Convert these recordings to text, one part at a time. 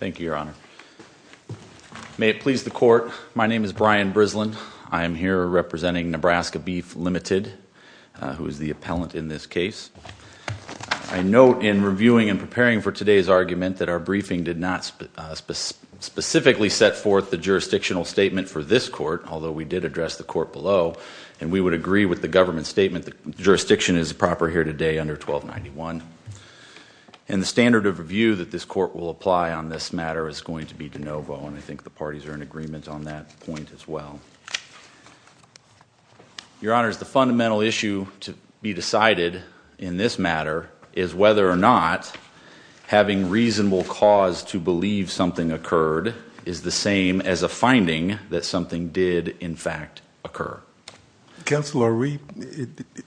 Thank you, Your Honor. May it please the Court, my name is Brian Brislin. I am here representing Nebraska Beef, Ltd., who is the appellant in this case. I note in reviewing and preparing for today's argument that our briefing did not specifically set forth the jurisdictional statement for this court, although we did address the court below, and we would agree with the government statement that jurisdiction is proper here today under 1291. And the standard of review that this court will apply on this matter is going to be de novo, and I think the parties are in agreement on that point as well. Your Honor, the fundamental issue to be decided in this matter is whether or not having reasonable cause to believe something occurred is the same as a finding that something did, in fact, occur. Counselor,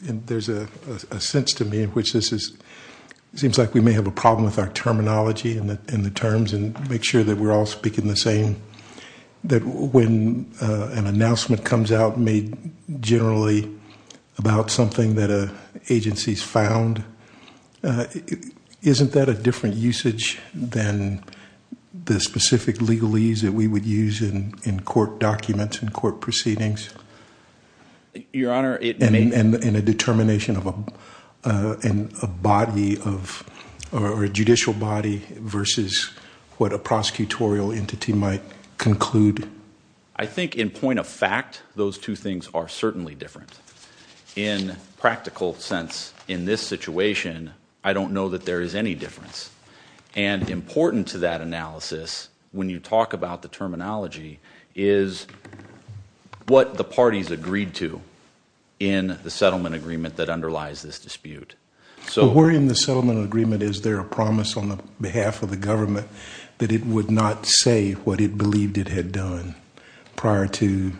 there's a sense to me in which this seems like we may have a problem with our terminology and the terms, and make sure that we're all speaking the same, that when an announcement comes out made generally about something that an agency's found, isn't that a different usage than the specific legalese that we would use in court documents and court proceedings? Your Honor, it may... And a determination of a body of, or a judicial body versus what a prosecutorial entity might conclude? I think in point of fact, those two things are certainly different. In practical sense, in this situation, I don't know that there is any difference. And important to that analysis, when you talk about the terminology, is what the parties agreed to in the settlement agreement that underlies this dispute. But where in the settlement agreement is there a promise on the behalf of the government that it would not say what it believed it had done prior to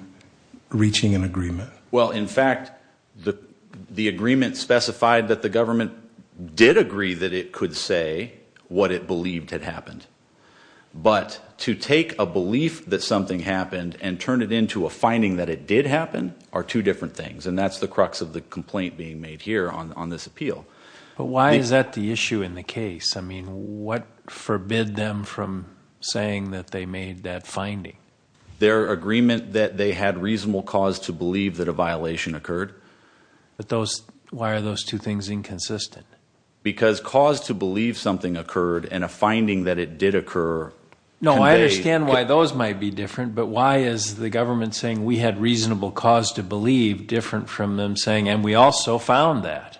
reaching an agreement? Well, in fact, the agreement specified that the government did agree that it could say what it believed had happened. But to take a belief that something happened and turn it into a finding that it did happen are two different things. And that's the crux of the complaint being made here on this appeal. But why is that the issue in the case? I mean, what forbid them from saying that they made that finding? Their agreement that they had reasonable cause to believe that a violation occurred. But those, why are those two things inconsistent? Because cause to believe something occurred and a finding that it did occur. No, I understand why those might be different. But why is the government saying we had reasonable cause to believe different from them saying and we also found that?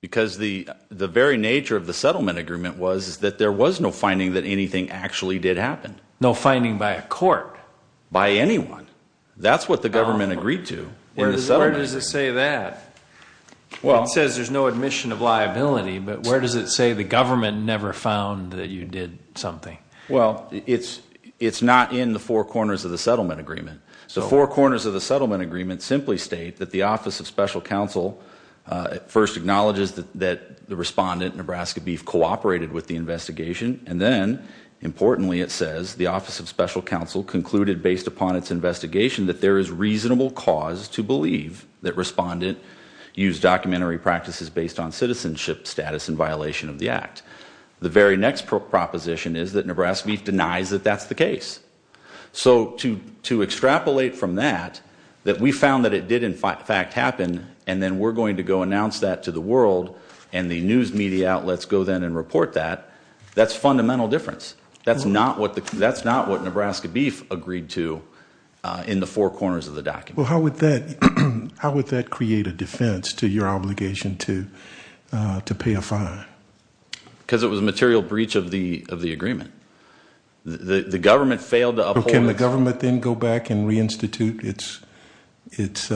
Because the very nature of the settlement agreement was that there was no finding that anything actually did happen. No finding by a court? By anyone. That's what the government agreed to. Where does it say that? It says there's no admission of liability, but where does it say the government never found that you did something? Well, it's not in the four corners of the settlement agreement. The four corners of the settlement agreement simply state that the Office of Special Counsel first acknowledges that the respondent, Nebraska Beef, cooperated with the investigation. And then, importantly, it says the Office of Special Counsel concluded based upon its investigation that there is reasonable cause to believe that respondent used documentary practices based on citizenship status in violation of the act. The very next proposition is that Nebraska Beef denies that that's the case. So to extrapolate from that, that we found that it did, in fact, happen, and then we're going to go announce that to the world and the news media outlets go then and report that, that's fundamental difference. That's not what Nebraska Beef agreed to in the four corners of the document. Well, how would that create a defense to your obligation to pay a fine? Because it was a material breach of the agreement. The government failed to uphold it. Can the government then go back and reinstitute its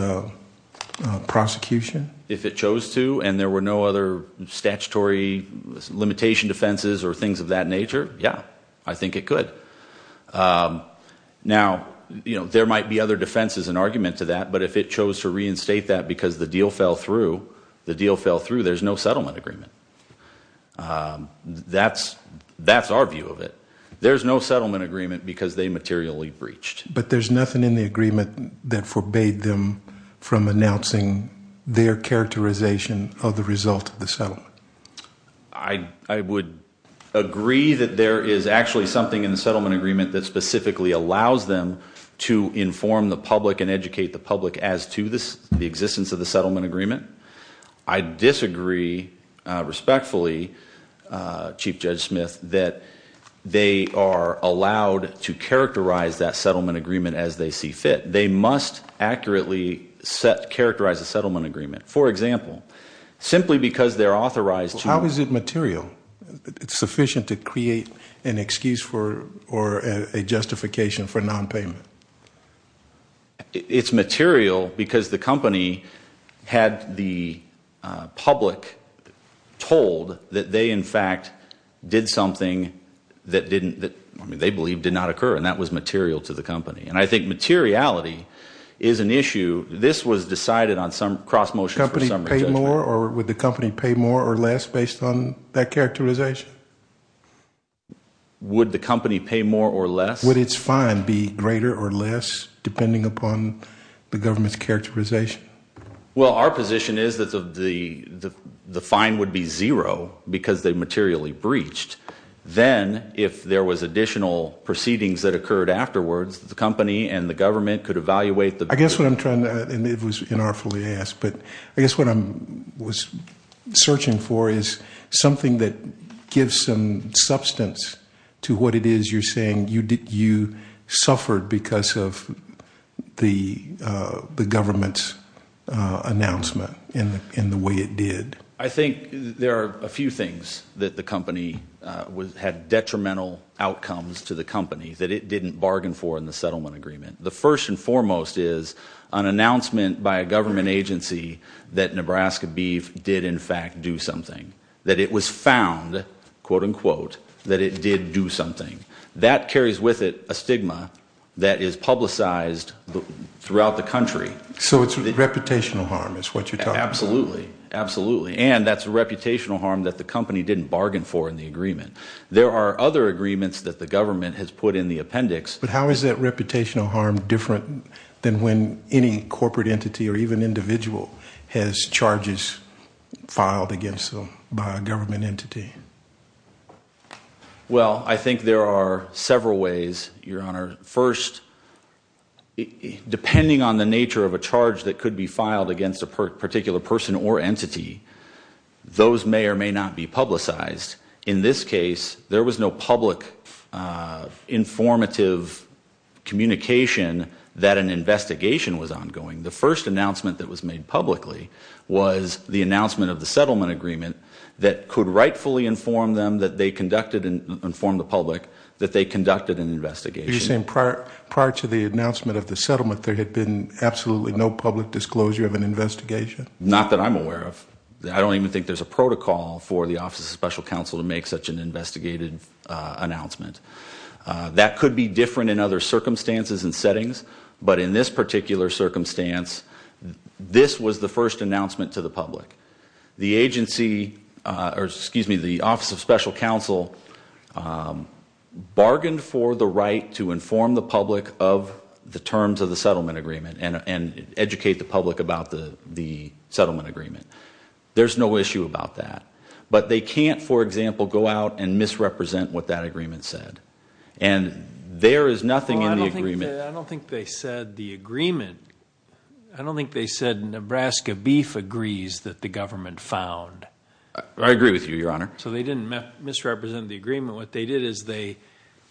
prosecution? If it chose to and there were no other statutory limitation defenses or things of that nature, yeah, I think it could. Now, there might be other defenses and argument to that, but if it chose to reinstate that because the deal fell through, the deal fell through, there's no settlement agreement. That's our view of it. There's no settlement agreement because they materially breached. But there's nothing in the agreement that forbade them from announcing their characterization of the result of the settlement. I would agree that there is actually something in the settlement agreement that specifically allows them to inform the public and educate the public as to the existence of the settlement agreement. I disagree respectfully, Chief Judge Smith, that they are allowed to characterize that settlement agreement as they see fit. They must accurately characterize a settlement agreement. For example, simply because they're authorized to. How is it material? It's sufficient to create an excuse for or a justification for nonpayment. It's material because the company had the public told that they, in fact, did something that they believed did not occur, and that was material to the company. And I think materiality is an issue. This was decided on some cross motion for summary judgment. Would the company pay more or less based on that characterization? Would the company pay more or less? Would its fine be greater or less depending upon the government's characterization? Well, our position is that the fine would be zero because they materially breached. Then if there was additional proceedings that occurred afterwards, the company and the government could evaluate the. I guess what I'm trying to, and it was inartfully asked, but I guess what I was searching for is something that gives some substance to what it is you're saying you suffered because of the government's announcement in the way it did. I think there are a few things that the company had detrimental outcomes to the company that it didn't bargain for in the settlement agreement. The first and foremost is an announcement by a government agency that Nebraska Beef did, in fact, do something, that it was found, quote, unquote, that it did do something. That carries with it a stigma that is publicized throughout the country. So it's reputational harm is what you're talking about. Absolutely, absolutely. And that's a reputational harm that the company didn't bargain for in the agreement. There are other agreements that the government has put in the appendix. But how is that reputational harm different than when any corporate entity or even individual has charges filed against them by a government entity? Well, I think there are several ways, Your Honor. First, depending on the nature of a charge that could be filed against a particular person or entity, those may or may not be publicized. In this case, there was no public informative communication that an investigation was ongoing. The first announcement that was made publicly was the announcement of the settlement agreement that could rightfully inform them that they conducted and informed the public that they conducted an investigation. Are you saying prior to the announcement of the settlement, there had been absolutely no public disclosure of an investigation? Not that I'm aware of. I don't even think there's a protocol for the Office of Special Counsel to make such an investigative announcement. That could be different in other circumstances and settings. But in this particular circumstance, this was the first announcement to the public. The Office of Special Counsel bargained for the right to inform the public of the terms of the settlement agreement and educate the public about the settlement agreement. There's no issue about that. But they can't, for example, go out and misrepresent what that agreement said. I don't think they said the agreement. I don't think they said Nebraska Beef agrees that the government found. I agree with you, Your Honor. So they didn't misrepresent the agreement. What they did is they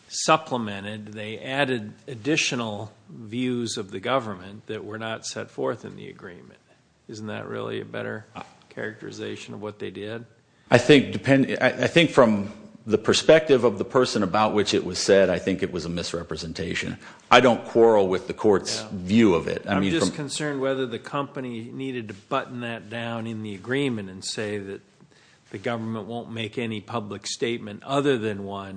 supplemented, they added additional views of the government that were not set forth in the agreement. Isn't that really a better characterization of what they did? I think from the perspective of the person about which it was said, I think it was a misrepresentation. I don't quarrel with the court's view of it. I'm just concerned whether the company needed to button that down in the agreement and say that the government won't make any public statement other than what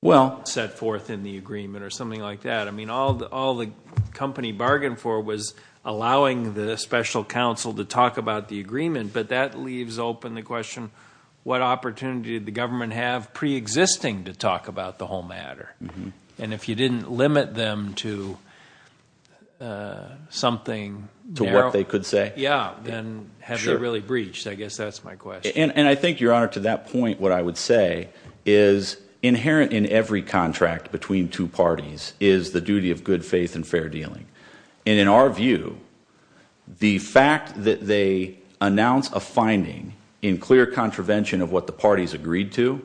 was set forth in the agreement or something like that. All the company bargained for was allowing the special counsel to talk about the agreement. But that leaves open the question, what opportunity did the government have preexisting to talk about the whole matter? And if you didn't limit them to something narrow? To what they could say? Yeah, then have they really breached? I guess that's my question. And I think, Your Honor, to that point what I would say is inherent in every contract between two parties is the duty of good faith and fair dealing. And in our view, the fact that they announce a finding in clear contravention of what the parties agreed to,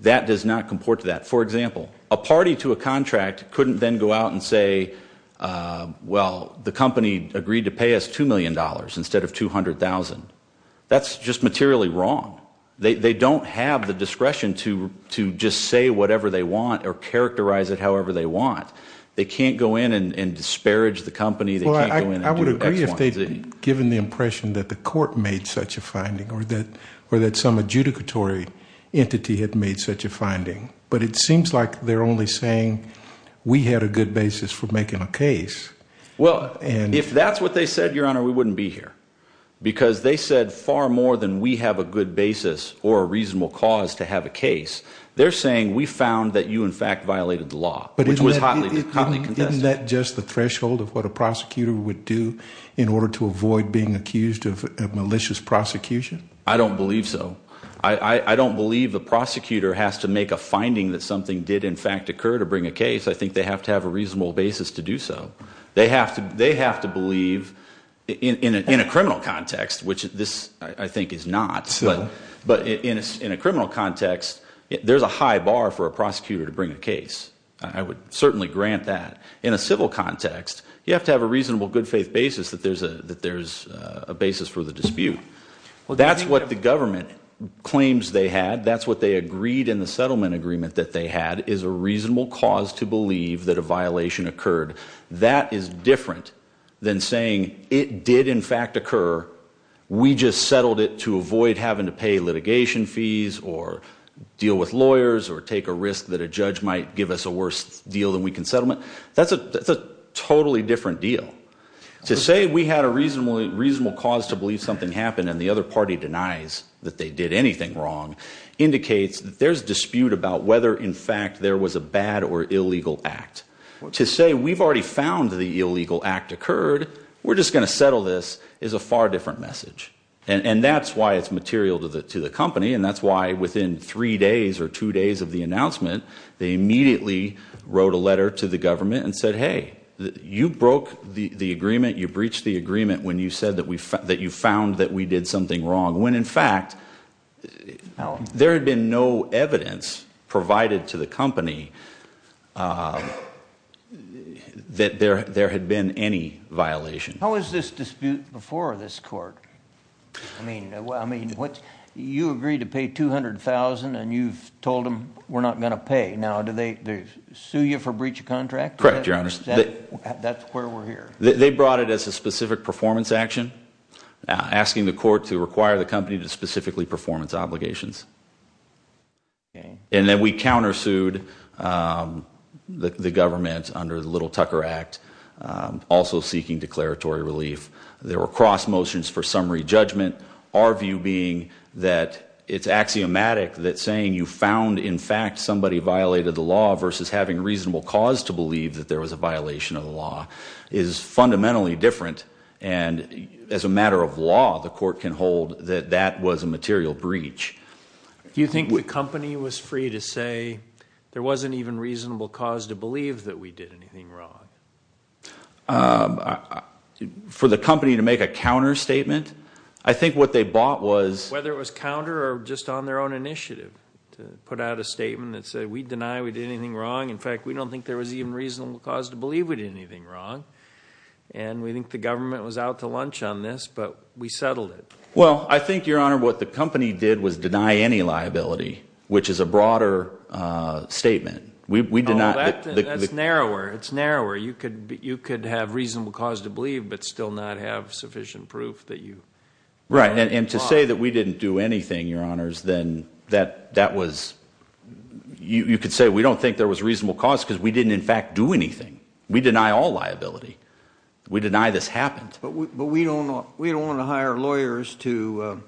that does not comport to that. For example, a party to a contract couldn't then go out and say, well, the company agreed to pay us $2 million instead of $200,000. That's just materially wrong. They don't have the discretion to just say whatever they want or characterize it however they want. They can't go in and disparage the company. I would agree if they'd given the impression that the court made such a finding or that some adjudicatory entity had made such a finding. But it seems like they're only saying we had a good basis for making a case. Well, if that's what they said, Your Honor, we wouldn't be here. Because they said far more than we have a good basis or a reasonable cause to have a case. They're saying we found that you in fact violated the law, which was hotly contested. Isn't that just the threshold of what a prosecutor would do in order to avoid being accused of malicious prosecution? I don't believe so. I don't believe the prosecutor has to make a finding that something did in fact occur to bring a case. I think they have to have a reasonable basis to do so. They have to believe in a criminal context, which this, I think, is not. But in a criminal context, there's a high bar for a prosecutor to bring a case. I would certainly grant that. In a civil context, you have to have a reasonable good faith basis that there's a basis for the dispute. That's what the government claims they had. That's what they agreed in the settlement agreement that they had is a reasonable cause to believe that a violation occurred. That is different than saying it did in fact occur. We just settled it to avoid having to pay litigation fees or deal with lawyers or take a risk that a judge might give us a worse deal than we can settle it. That's a totally different deal. To say we had a reasonable cause to believe something happened and the other party denies that they did anything wrong indicates that there's dispute about whether in fact there was a bad or illegal act. To say we've already found the illegal act occurred, we're just going to settle this is a far different message. That's why it's material to the company. That's why within three days or two days of the announcement, they immediately wrote a letter to the government and said, hey, you broke the agreement. You breached the agreement when you said that you found that we did something wrong. When in fact there had been no evidence provided to the company that there had been any violation. How is this dispute before this court? I mean, you agreed to pay $200,000 and you've told them we're not going to pay. Now, do they sue you for breach of contract? Correct, Your Honor. That's where we're here. They brought it as a specific performance action, asking the court to require the company to specifically perform its obligations. And then we countersued the government under the Little Tucker Act, also seeking declaratory relief. There were cross motions for summary judgment. Our view being that it's axiomatic that saying you found in fact somebody violated the law versus having reasonable cause to believe that there was a violation of the law is fundamentally different. And as a matter of law, the court can hold that that was a material breach. Do you think the company was free to say there wasn't even reasonable cause to believe that we did anything wrong? For the company to make a counter statement? I think what they bought was- In fact, we don't think there was even reasonable cause to believe we did anything wrong. And we think the government was out to lunch on this, but we settled it. Well, I think, Your Honor, what the company did was deny any liability, which is a broader statement. Oh, that's narrower. It's narrower. You could have reasonable cause to believe but still not have sufficient proof that you- Right, and to say that we didn't do anything, Your Honors, then that was- You could say we don't think there was reasonable cause because we didn't in fact do anything. We deny all liability. We deny this happened. But we don't want to hire lawyers to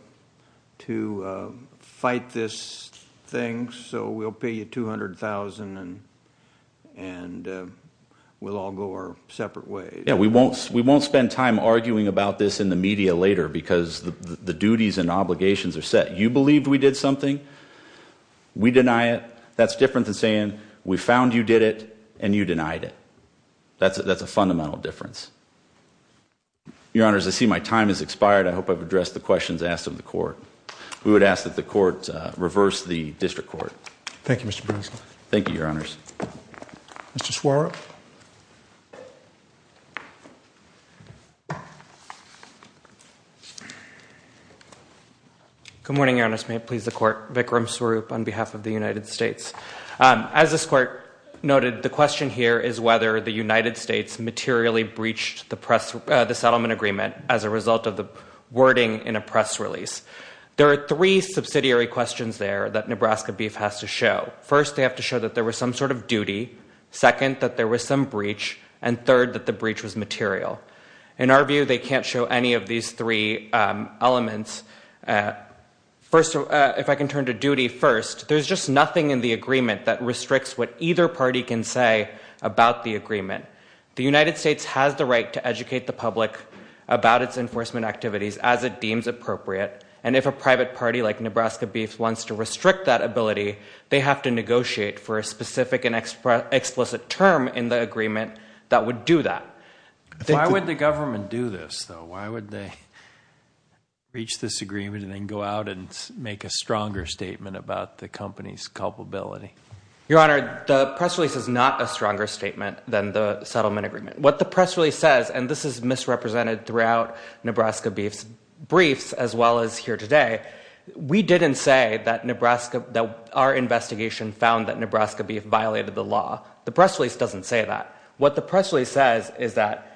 fight this thing, so we'll pay you $200,000 and we'll all go our separate ways. Yeah, we won't spend time arguing about this in the media later because the duties and obligations are set. You believed we did something. We deny it. That's different than saying we found you did it and you denied it. That's a fundamental difference. Your Honors, I see my time has expired. I hope I've addressed the questions asked of the court. We would ask that the court reverse the district court. Thank you, Mr. Breslin. Thank you, Your Honors. Mr. Swarup. Good morning, Your Honors. May it please the Court. Vikram Swarup on behalf of the United States. As this court noted, the question here is whether the United States materially breached the settlement agreement as a result of the wording in a press release. There are three subsidiary questions there that Nebraska Beef has to show. First, they have to show that there was some sort of duty. Second, that there was some breach. And third, that the breach was material. In our view, they can't show any of these three elements. First, if I can turn to duty first, there's just nothing in the agreement that restricts what either party can say about the agreement. The United States has the right to educate the public about its enforcement activities as it deems appropriate. And if a private party like Nebraska Beef wants to restrict that ability, they have to negotiate for a specific and explicit term in the agreement that would do that. Why would the government do this, though? Why would they reach this agreement and then go out and make a stronger statement about the company's culpability? Your Honor, the press release is not a stronger statement than the settlement agreement. What the press release says, and this is misrepresented throughout Nebraska Beef's briefs as well as here today, we didn't say that our investigation found that Nebraska Beef violated the law. The press release doesn't say that. What the press release says is that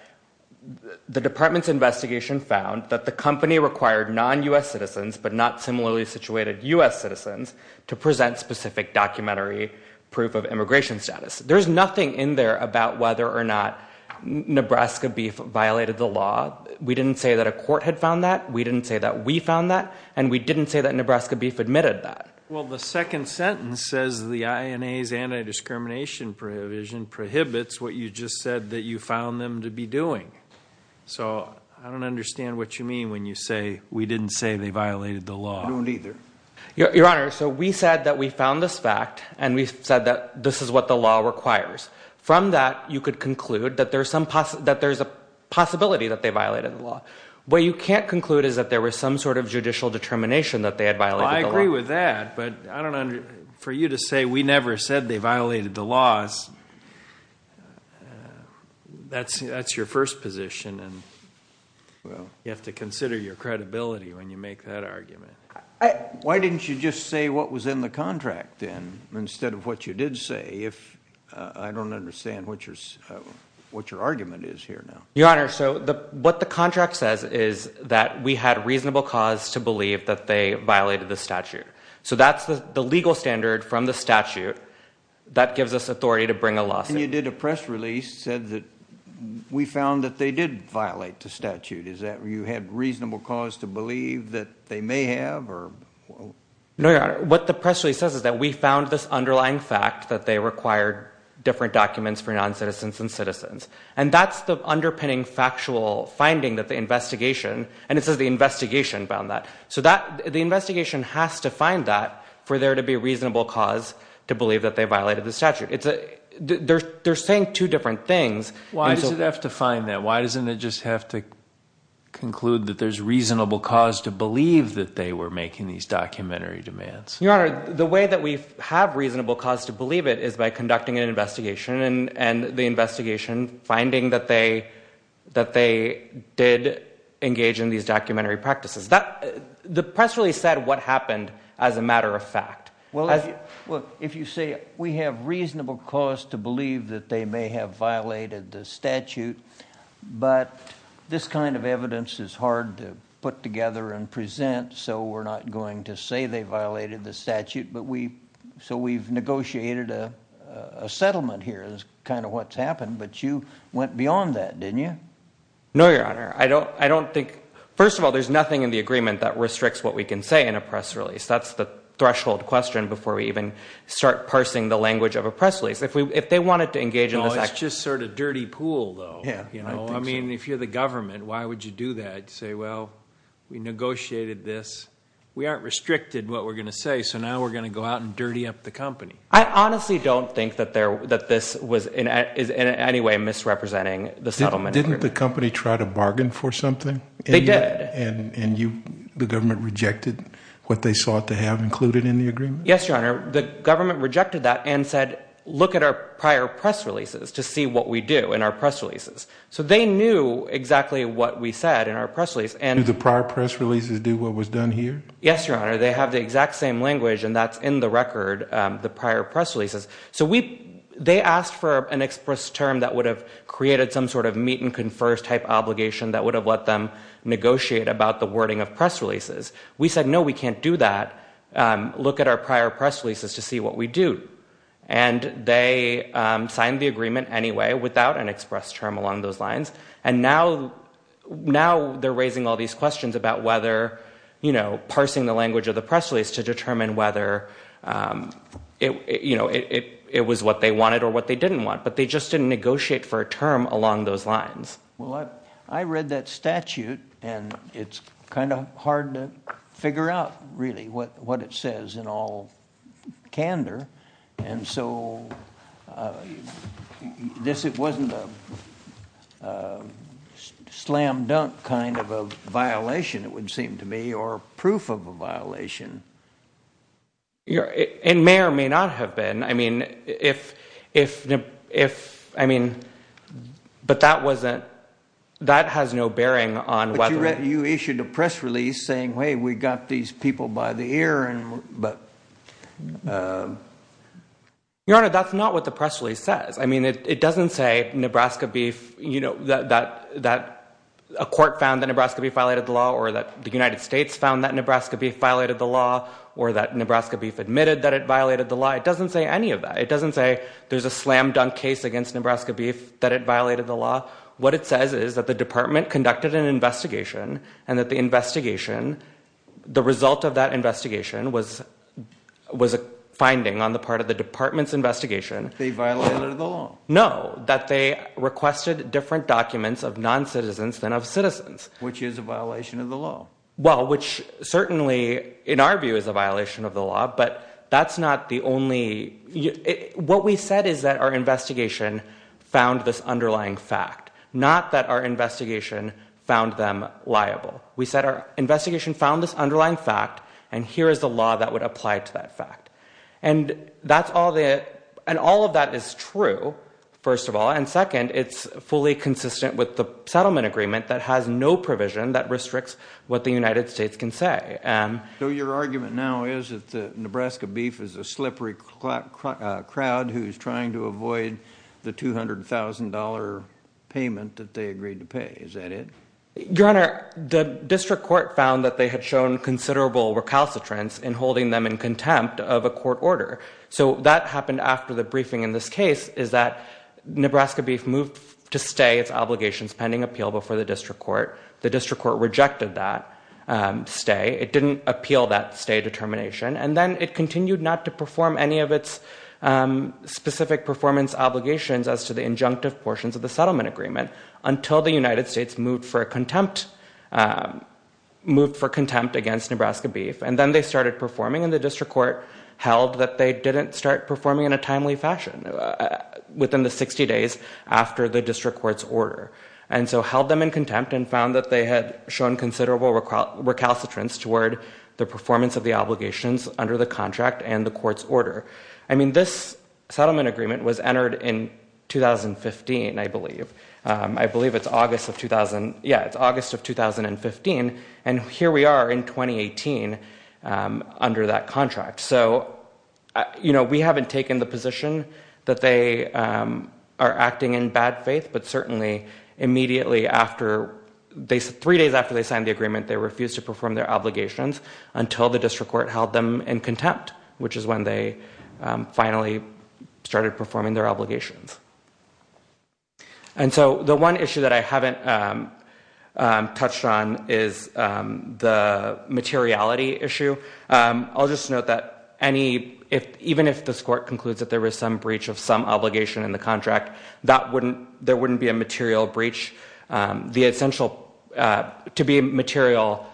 the department's investigation found that the company required non-U.S. citizens, but not similarly situated U.S. citizens, to present specific documentary proof of immigration status. There's nothing in there about whether or not Nebraska Beef violated the law. We didn't say that a court had found that. We didn't say that we found that. And we didn't say that Nebraska Beef admitted that. Well, the second sentence says the INA's anti-discrimination provision prohibits what you just said that you found them to be doing. So I don't understand what you mean when you say we didn't say they violated the law. I don't either. Your Honor, so we said that we found this fact, and we said that this is what the law requires. From that, you could conclude that there's a possibility that they violated the law. What you can't conclude is that there was some sort of judicial determination that they had violated the law. Well, I agree with that, but I don't understand. For you to say we never said they violated the law, that's your first position, and you have to consider your credibility when you make that argument. Why didn't you just say what was in the contract, then, instead of what you did say? I don't understand what your argument is here now. Your Honor, so what the contract says is that we had reasonable cause to believe that they violated the statute. So that's the legal standard from the statute that gives us authority to bring a lawsuit. And you did a press release that said that we found that they did violate the statute. Is that you had reasonable cause to believe that they may have? No, Your Honor, what the press release says is that we found this underlying fact that they required different documents for noncitizens and citizens. And that's the underpinning factual finding that the investigation, and it says the investigation found that. So the investigation has to find that for there to be a reasonable cause to believe that they violated the statute. They're saying two different things. Why does it have to find that? Why doesn't it just have to conclude that there's reasonable cause to believe that they were making these documentary demands? Your Honor, the way that we have reasonable cause to believe it is by conducting an investigation and the investigation finding that they did engage in these documentary practices. The press release said what happened as a matter of fact. Well, if you say we have reasonable cause to believe that they may have violated the statute, but this kind of evidence is hard to put together and present, so we're not going to say they violated the statute. So we've negotiated a settlement here is kind of what's happened, but you went beyond that, didn't you? No, Your Honor, I don't think. First of all, there's nothing in the agreement that restricts what we can say in a press release. That's the threshold question before we even start parsing the language of a press release. If they wanted to engage in this action. It's just sort of dirty pool, though. I mean, if you're the government, why would you do that? Say, well, we negotiated this. We aren't restricted in what we're going to say, so now we're going to go out and dirty up the company. I honestly don't think that this is in any way misrepresenting the settlement agreement. Didn't the company try to bargain for something? They did. And the government rejected what they sought to have included in the agreement? Yes, Your Honor. The government rejected that and said, look at our prior press releases to see what we do in our press releases. So they knew exactly what we said in our press release. Did the prior press releases do what was done here? Yes, Your Honor. They have the exact same language, and that's in the record, the prior press releases. So they asked for an express term that would have created some sort of meet and confer type obligation that would have let them negotiate about the wording of press releases. We said, no, we can't do that. Look at our prior press releases to see what we do. And they signed the agreement anyway without an express term along those lines. And now they're raising all these questions about whether, you know, it was what they wanted or what they didn't want, but they just didn't negotiate for a term along those lines. Well, I read that statute, and it's kind of hard to figure out really what it says in all candor. And so this wasn't a slam dunk kind of a violation, it would seem to me, or proof of a violation. It may or may not have been. I mean, if, I mean, but that wasn't, that has no bearing on whether. But you issued a press release saying, hey, we got these people by the ear. Your Honor, that's not what the press release says. I mean, it doesn't say Nebraska beef, you know, that a court found that Nebraska beef violated the law or that the United States found that Nebraska beef violated the law or that Nebraska beef admitted that it violated the law. It doesn't say any of that. It doesn't say there's a slam dunk case against Nebraska beef that it violated the law. What it says is that the department conducted an investigation and that the investigation, the result of that investigation was a finding on the part of the department's investigation. They violated the law? No, that they requested different documents of noncitizens than of citizens. Which is a violation of the law. Well, which certainly in our view is a violation of the law, but that's not the only. What we said is that our investigation found this underlying fact, not that our investigation found them liable. We said our investigation found this underlying fact, and here is the law that would apply to that fact. And that's all the, and all of that is true, first of all. And second, it's fully consistent with the settlement agreement that has no provision that restricts what the United States can say. So your argument now is that the Nebraska beef is a slippery crowd who's trying to avoid the $200,000 payment that they agreed to pay. Is that it? Your Honor, the district court found that they had shown considerable recalcitrance in holding them in contempt of a court order. So that happened after the briefing in this case is that Nebraska beef moved to stay its obligations pending appeal before the district court. The district court rejected that stay. It didn't appeal that stay determination. And then it continued not to perform any of its specific performance obligations as to the injunctive portions of the settlement agreement until the United States moved for contempt against Nebraska beef. And then they started performing, and the district court held that they didn't start performing in a timely fashion within the 60 days after the district court's order. And so held them in contempt and found that they had shown considerable recalcitrance toward the performance of the obligations under the contract and the court's order. I mean, this settlement agreement was entered in 2015, I believe. I believe it's August of 2015. And here we are in 2018 under that contract. So, you know, we haven't taken the position that they are acting in bad faith, but certainly immediately after, three days after they signed the agreement, they refused to perform their obligations until the district court held them in contempt, And so the one issue that I haven't touched on is the materiality issue. I'll just note that even if this court concludes that there was some breach of some obligation in the contract, there wouldn't be a material breach. To be a material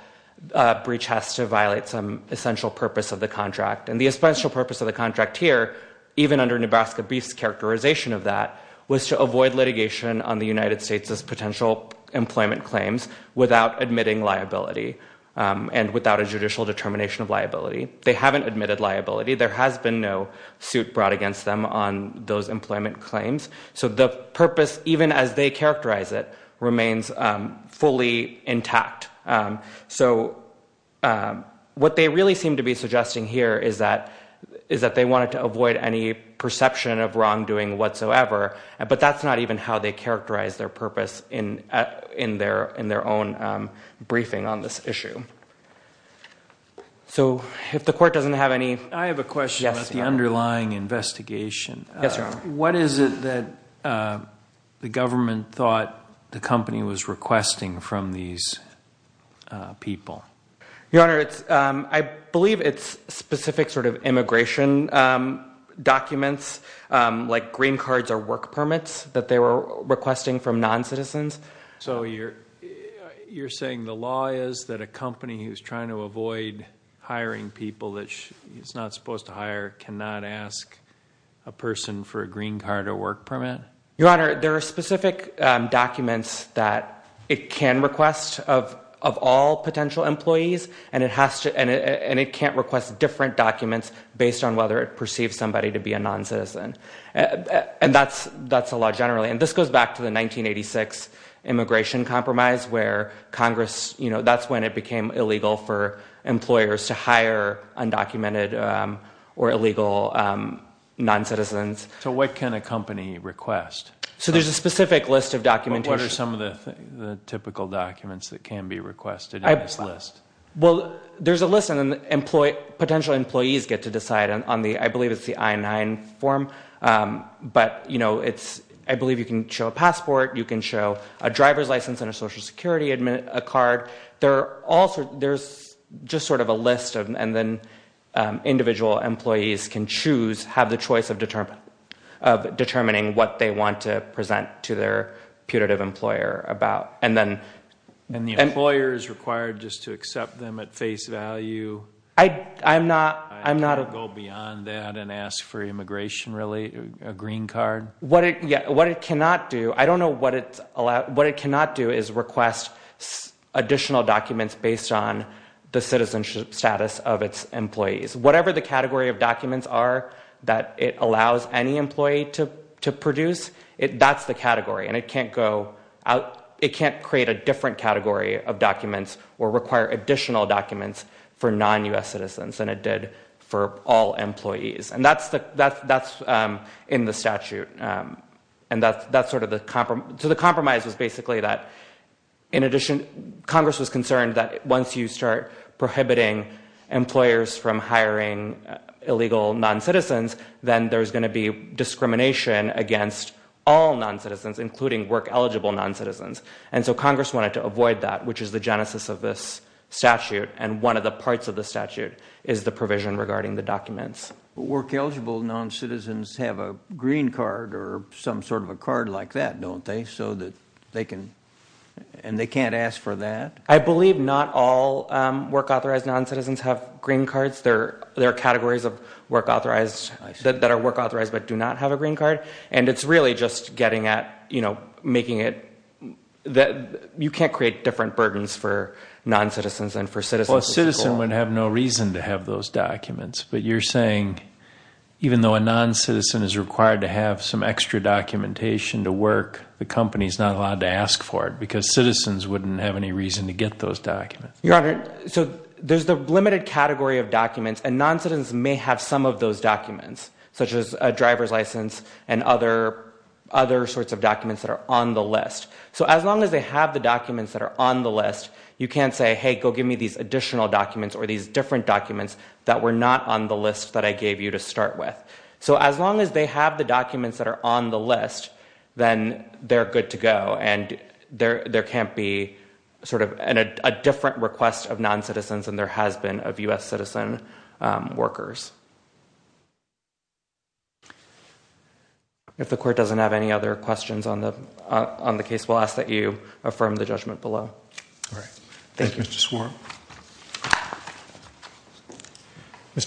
breach has to violate some essential purpose of the contract. And the essential purpose of the contract here, even under Nebraska Beef's characterization of that, was to avoid litigation on the United States' potential employment claims without admitting liability and without a judicial determination of liability. They haven't admitted liability. There has been no suit brought against them on those employment claims. So the purpose, even as they characterize it, remains fully intact. So what they really seem to be suggesting here is that they wanted to avoid any perception of wrongdoing whatsoever, but that's not even how they characterize their purpose in their own briefing on this issue. So if the court doesn't have any— I have a question about the underlying investigation. Yes, Your Honor. What is it that the government thought the company was requesting from these people? Your Honor, I believe it's specific sort of immigration documents, like green cards or work permits that they were requesting from noncitizens. So you're saying the law is that a company who's trying to avoid hiring people that it's not supposed to hire cannot ask a person for a green card or work permit? Your Honor, there are specific documents that it can request of all potential employees, and it can't request different documents based on whether it perceives somebody to be a noncitizen. And that's the law generally. And this goes back to the 1986 immigration compromise, where Congress—that's when it became illegal for employers to hire undocumented or illegal noncitizens. So what can a company request? So there's a specific list of documentation. What are some of the typical documents that can be requested in this list? Well, there's a list, and then potential employees get to decide on the—I believe it's the I-9 form. But I believe you can show a passport. You can show a driver's license and a Social Security card. There's just sort of a list, and then individual employees can choose, have the choice of determining what they want to present to their putative employer about. And the employer is required just to accept them at face value? I'm not— Does it go beyond that and ask for immigration, really, a green card? What it cannot do—I don't know what it's allowed— what it cannot do is request additional documents based on the citizenship status of its employees. Whatever the category of documents are that it allows any employee to produce, that's the category. And it can't go out—it can't create a different category of documents or require additional documents for non-U.S. citizens than it did for all employees. And that's in the statute. And that's sort of the—so the compromise was basically that, in addition, Congress was concerned that once you start prohibiting employers from hiring illegal non-citizens, then there's going to be discrimination against all non-citizens, including work-eligible non-citizens. And so Congress wanted to avoid that, which is the genesis of this statute. And one of the parts of the statute is the provision regarding the documents. Work-eligible non-citizens have a green card or some sort of a card like that, don't they? So that they can—and they can't ask for that? I believe not all work-authorized non-citizens have green cards. There are categories of work-authorized that are work-authorized but do not have a green card. And it's really just getting at making it—you can't create different burdens for non-citizens than for citizens. Well, a citizen would have no reason to have those documents. But you're saying even though a non-citizen is required to have some extra documentation to work, the company's not allowed to ask for it because citizens wouldn't have any reason to get those documents. Your Honor, so there's the limited category of documents, and non-citizens may have some of those documents such as a driver's license and other sorts of documents that are on the list. So as long as they have the documents that are on the list, you can't say, hey, go give me these additional documents or these different documents that were not on the list that I gave you to start with. So as long as they have the documents that are on the list, then they're good to go. And there can't be sort of a different request of non-citizens than there has been of U.S. citizen workers. If the Court doesn't have any other questions on the case, we'll ask that you affirm the judgment below. All right. Thank you. Mr.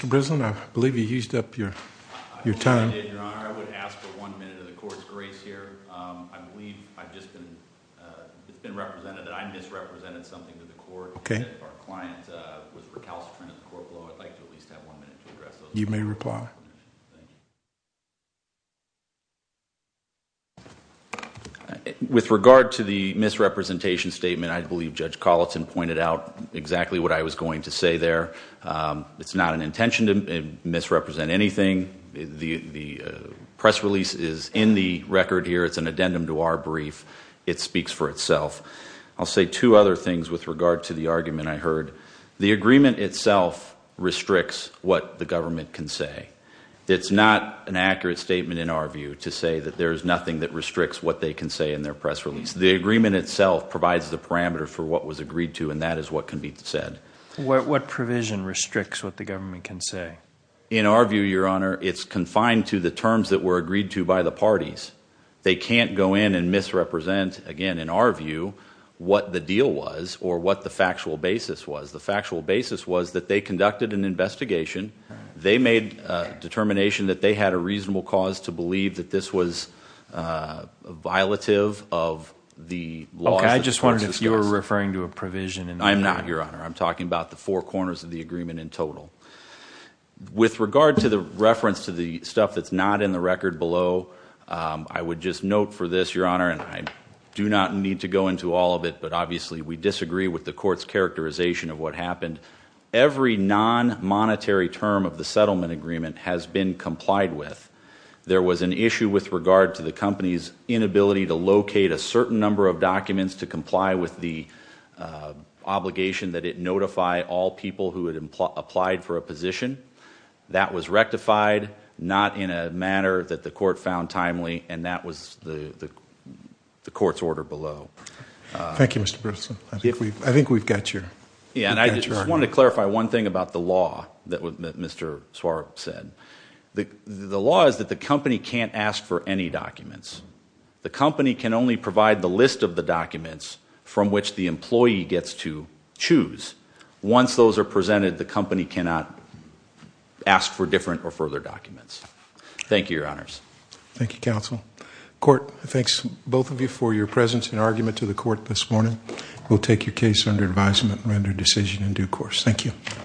Brislin, I believe you used up your time. I did, Your Honor. I would ask for one minute of the Court's grace here. I believe it's been represented that I misrepresented something to the Court. If our client was recalcitrant at the Court below, I'd like to at least have one minute to address those questions. You may reply. With regard to the misrepresentation statement, I believe Judge Colleton pointed out exactly what I was going to say there. It's not an intention to misrepresent anything. The press release is in the record here. It's an addendum to our brief. It speaks for itself. I'll say two other things with regard to the argument I heard. The agreement itself restricts what the government can say. It's not an accurate statement in our view to say that there is nothing that restricts what they can say in their press release. The agreement itself provides the parameter for what was agreed to, and that is what can be said. What provision restricts what the government can say? In our view, Your Honor, it's confined to the terms that were agreed to by the parties. They can't go in and misrepresent, again, in our view, what the deal was or what the factual basis was. The factual basis was that they conducted an investigation. They made a determination that they had a reasonable cause to believe that this was violative of the laws. Okay, I just wondered if you were referring to a provision in the agreement. I'm not, Your Honor. I'm talking about the four corners of the agreement in total. With regard to the reference to the stuff that's not in the record below, I would just note for this, Your Honor, and I do not need to go into all of it, but obviously we disagree with the court's characterization of what happened. Every non-monetary term of the settlement agreement has been complied with. There was an issue with regard to the company's inability to locate a certain number of documents to comply with the obligation that it notify all people who had applied for a position. That was rectified, not in a manner that the court found timely, and that was the court's order below. Thank you, Mr. Berthelsen. I think we've got your argument. Yeah, and I just wanted to clarify one thing about the law that Mr. Suarez said. The law is that the company can't ask for any documents. The company can only provide the list of the documents from which the employee gets to choose. Once those are presented, the company cannot ask for different or further documents. Thank you, Your Honors. Thank you, Counsel. Court, thanks both of you for your presence and argument to the court this morning. We'll take your case under advisement and render a decision in due course. Thank you.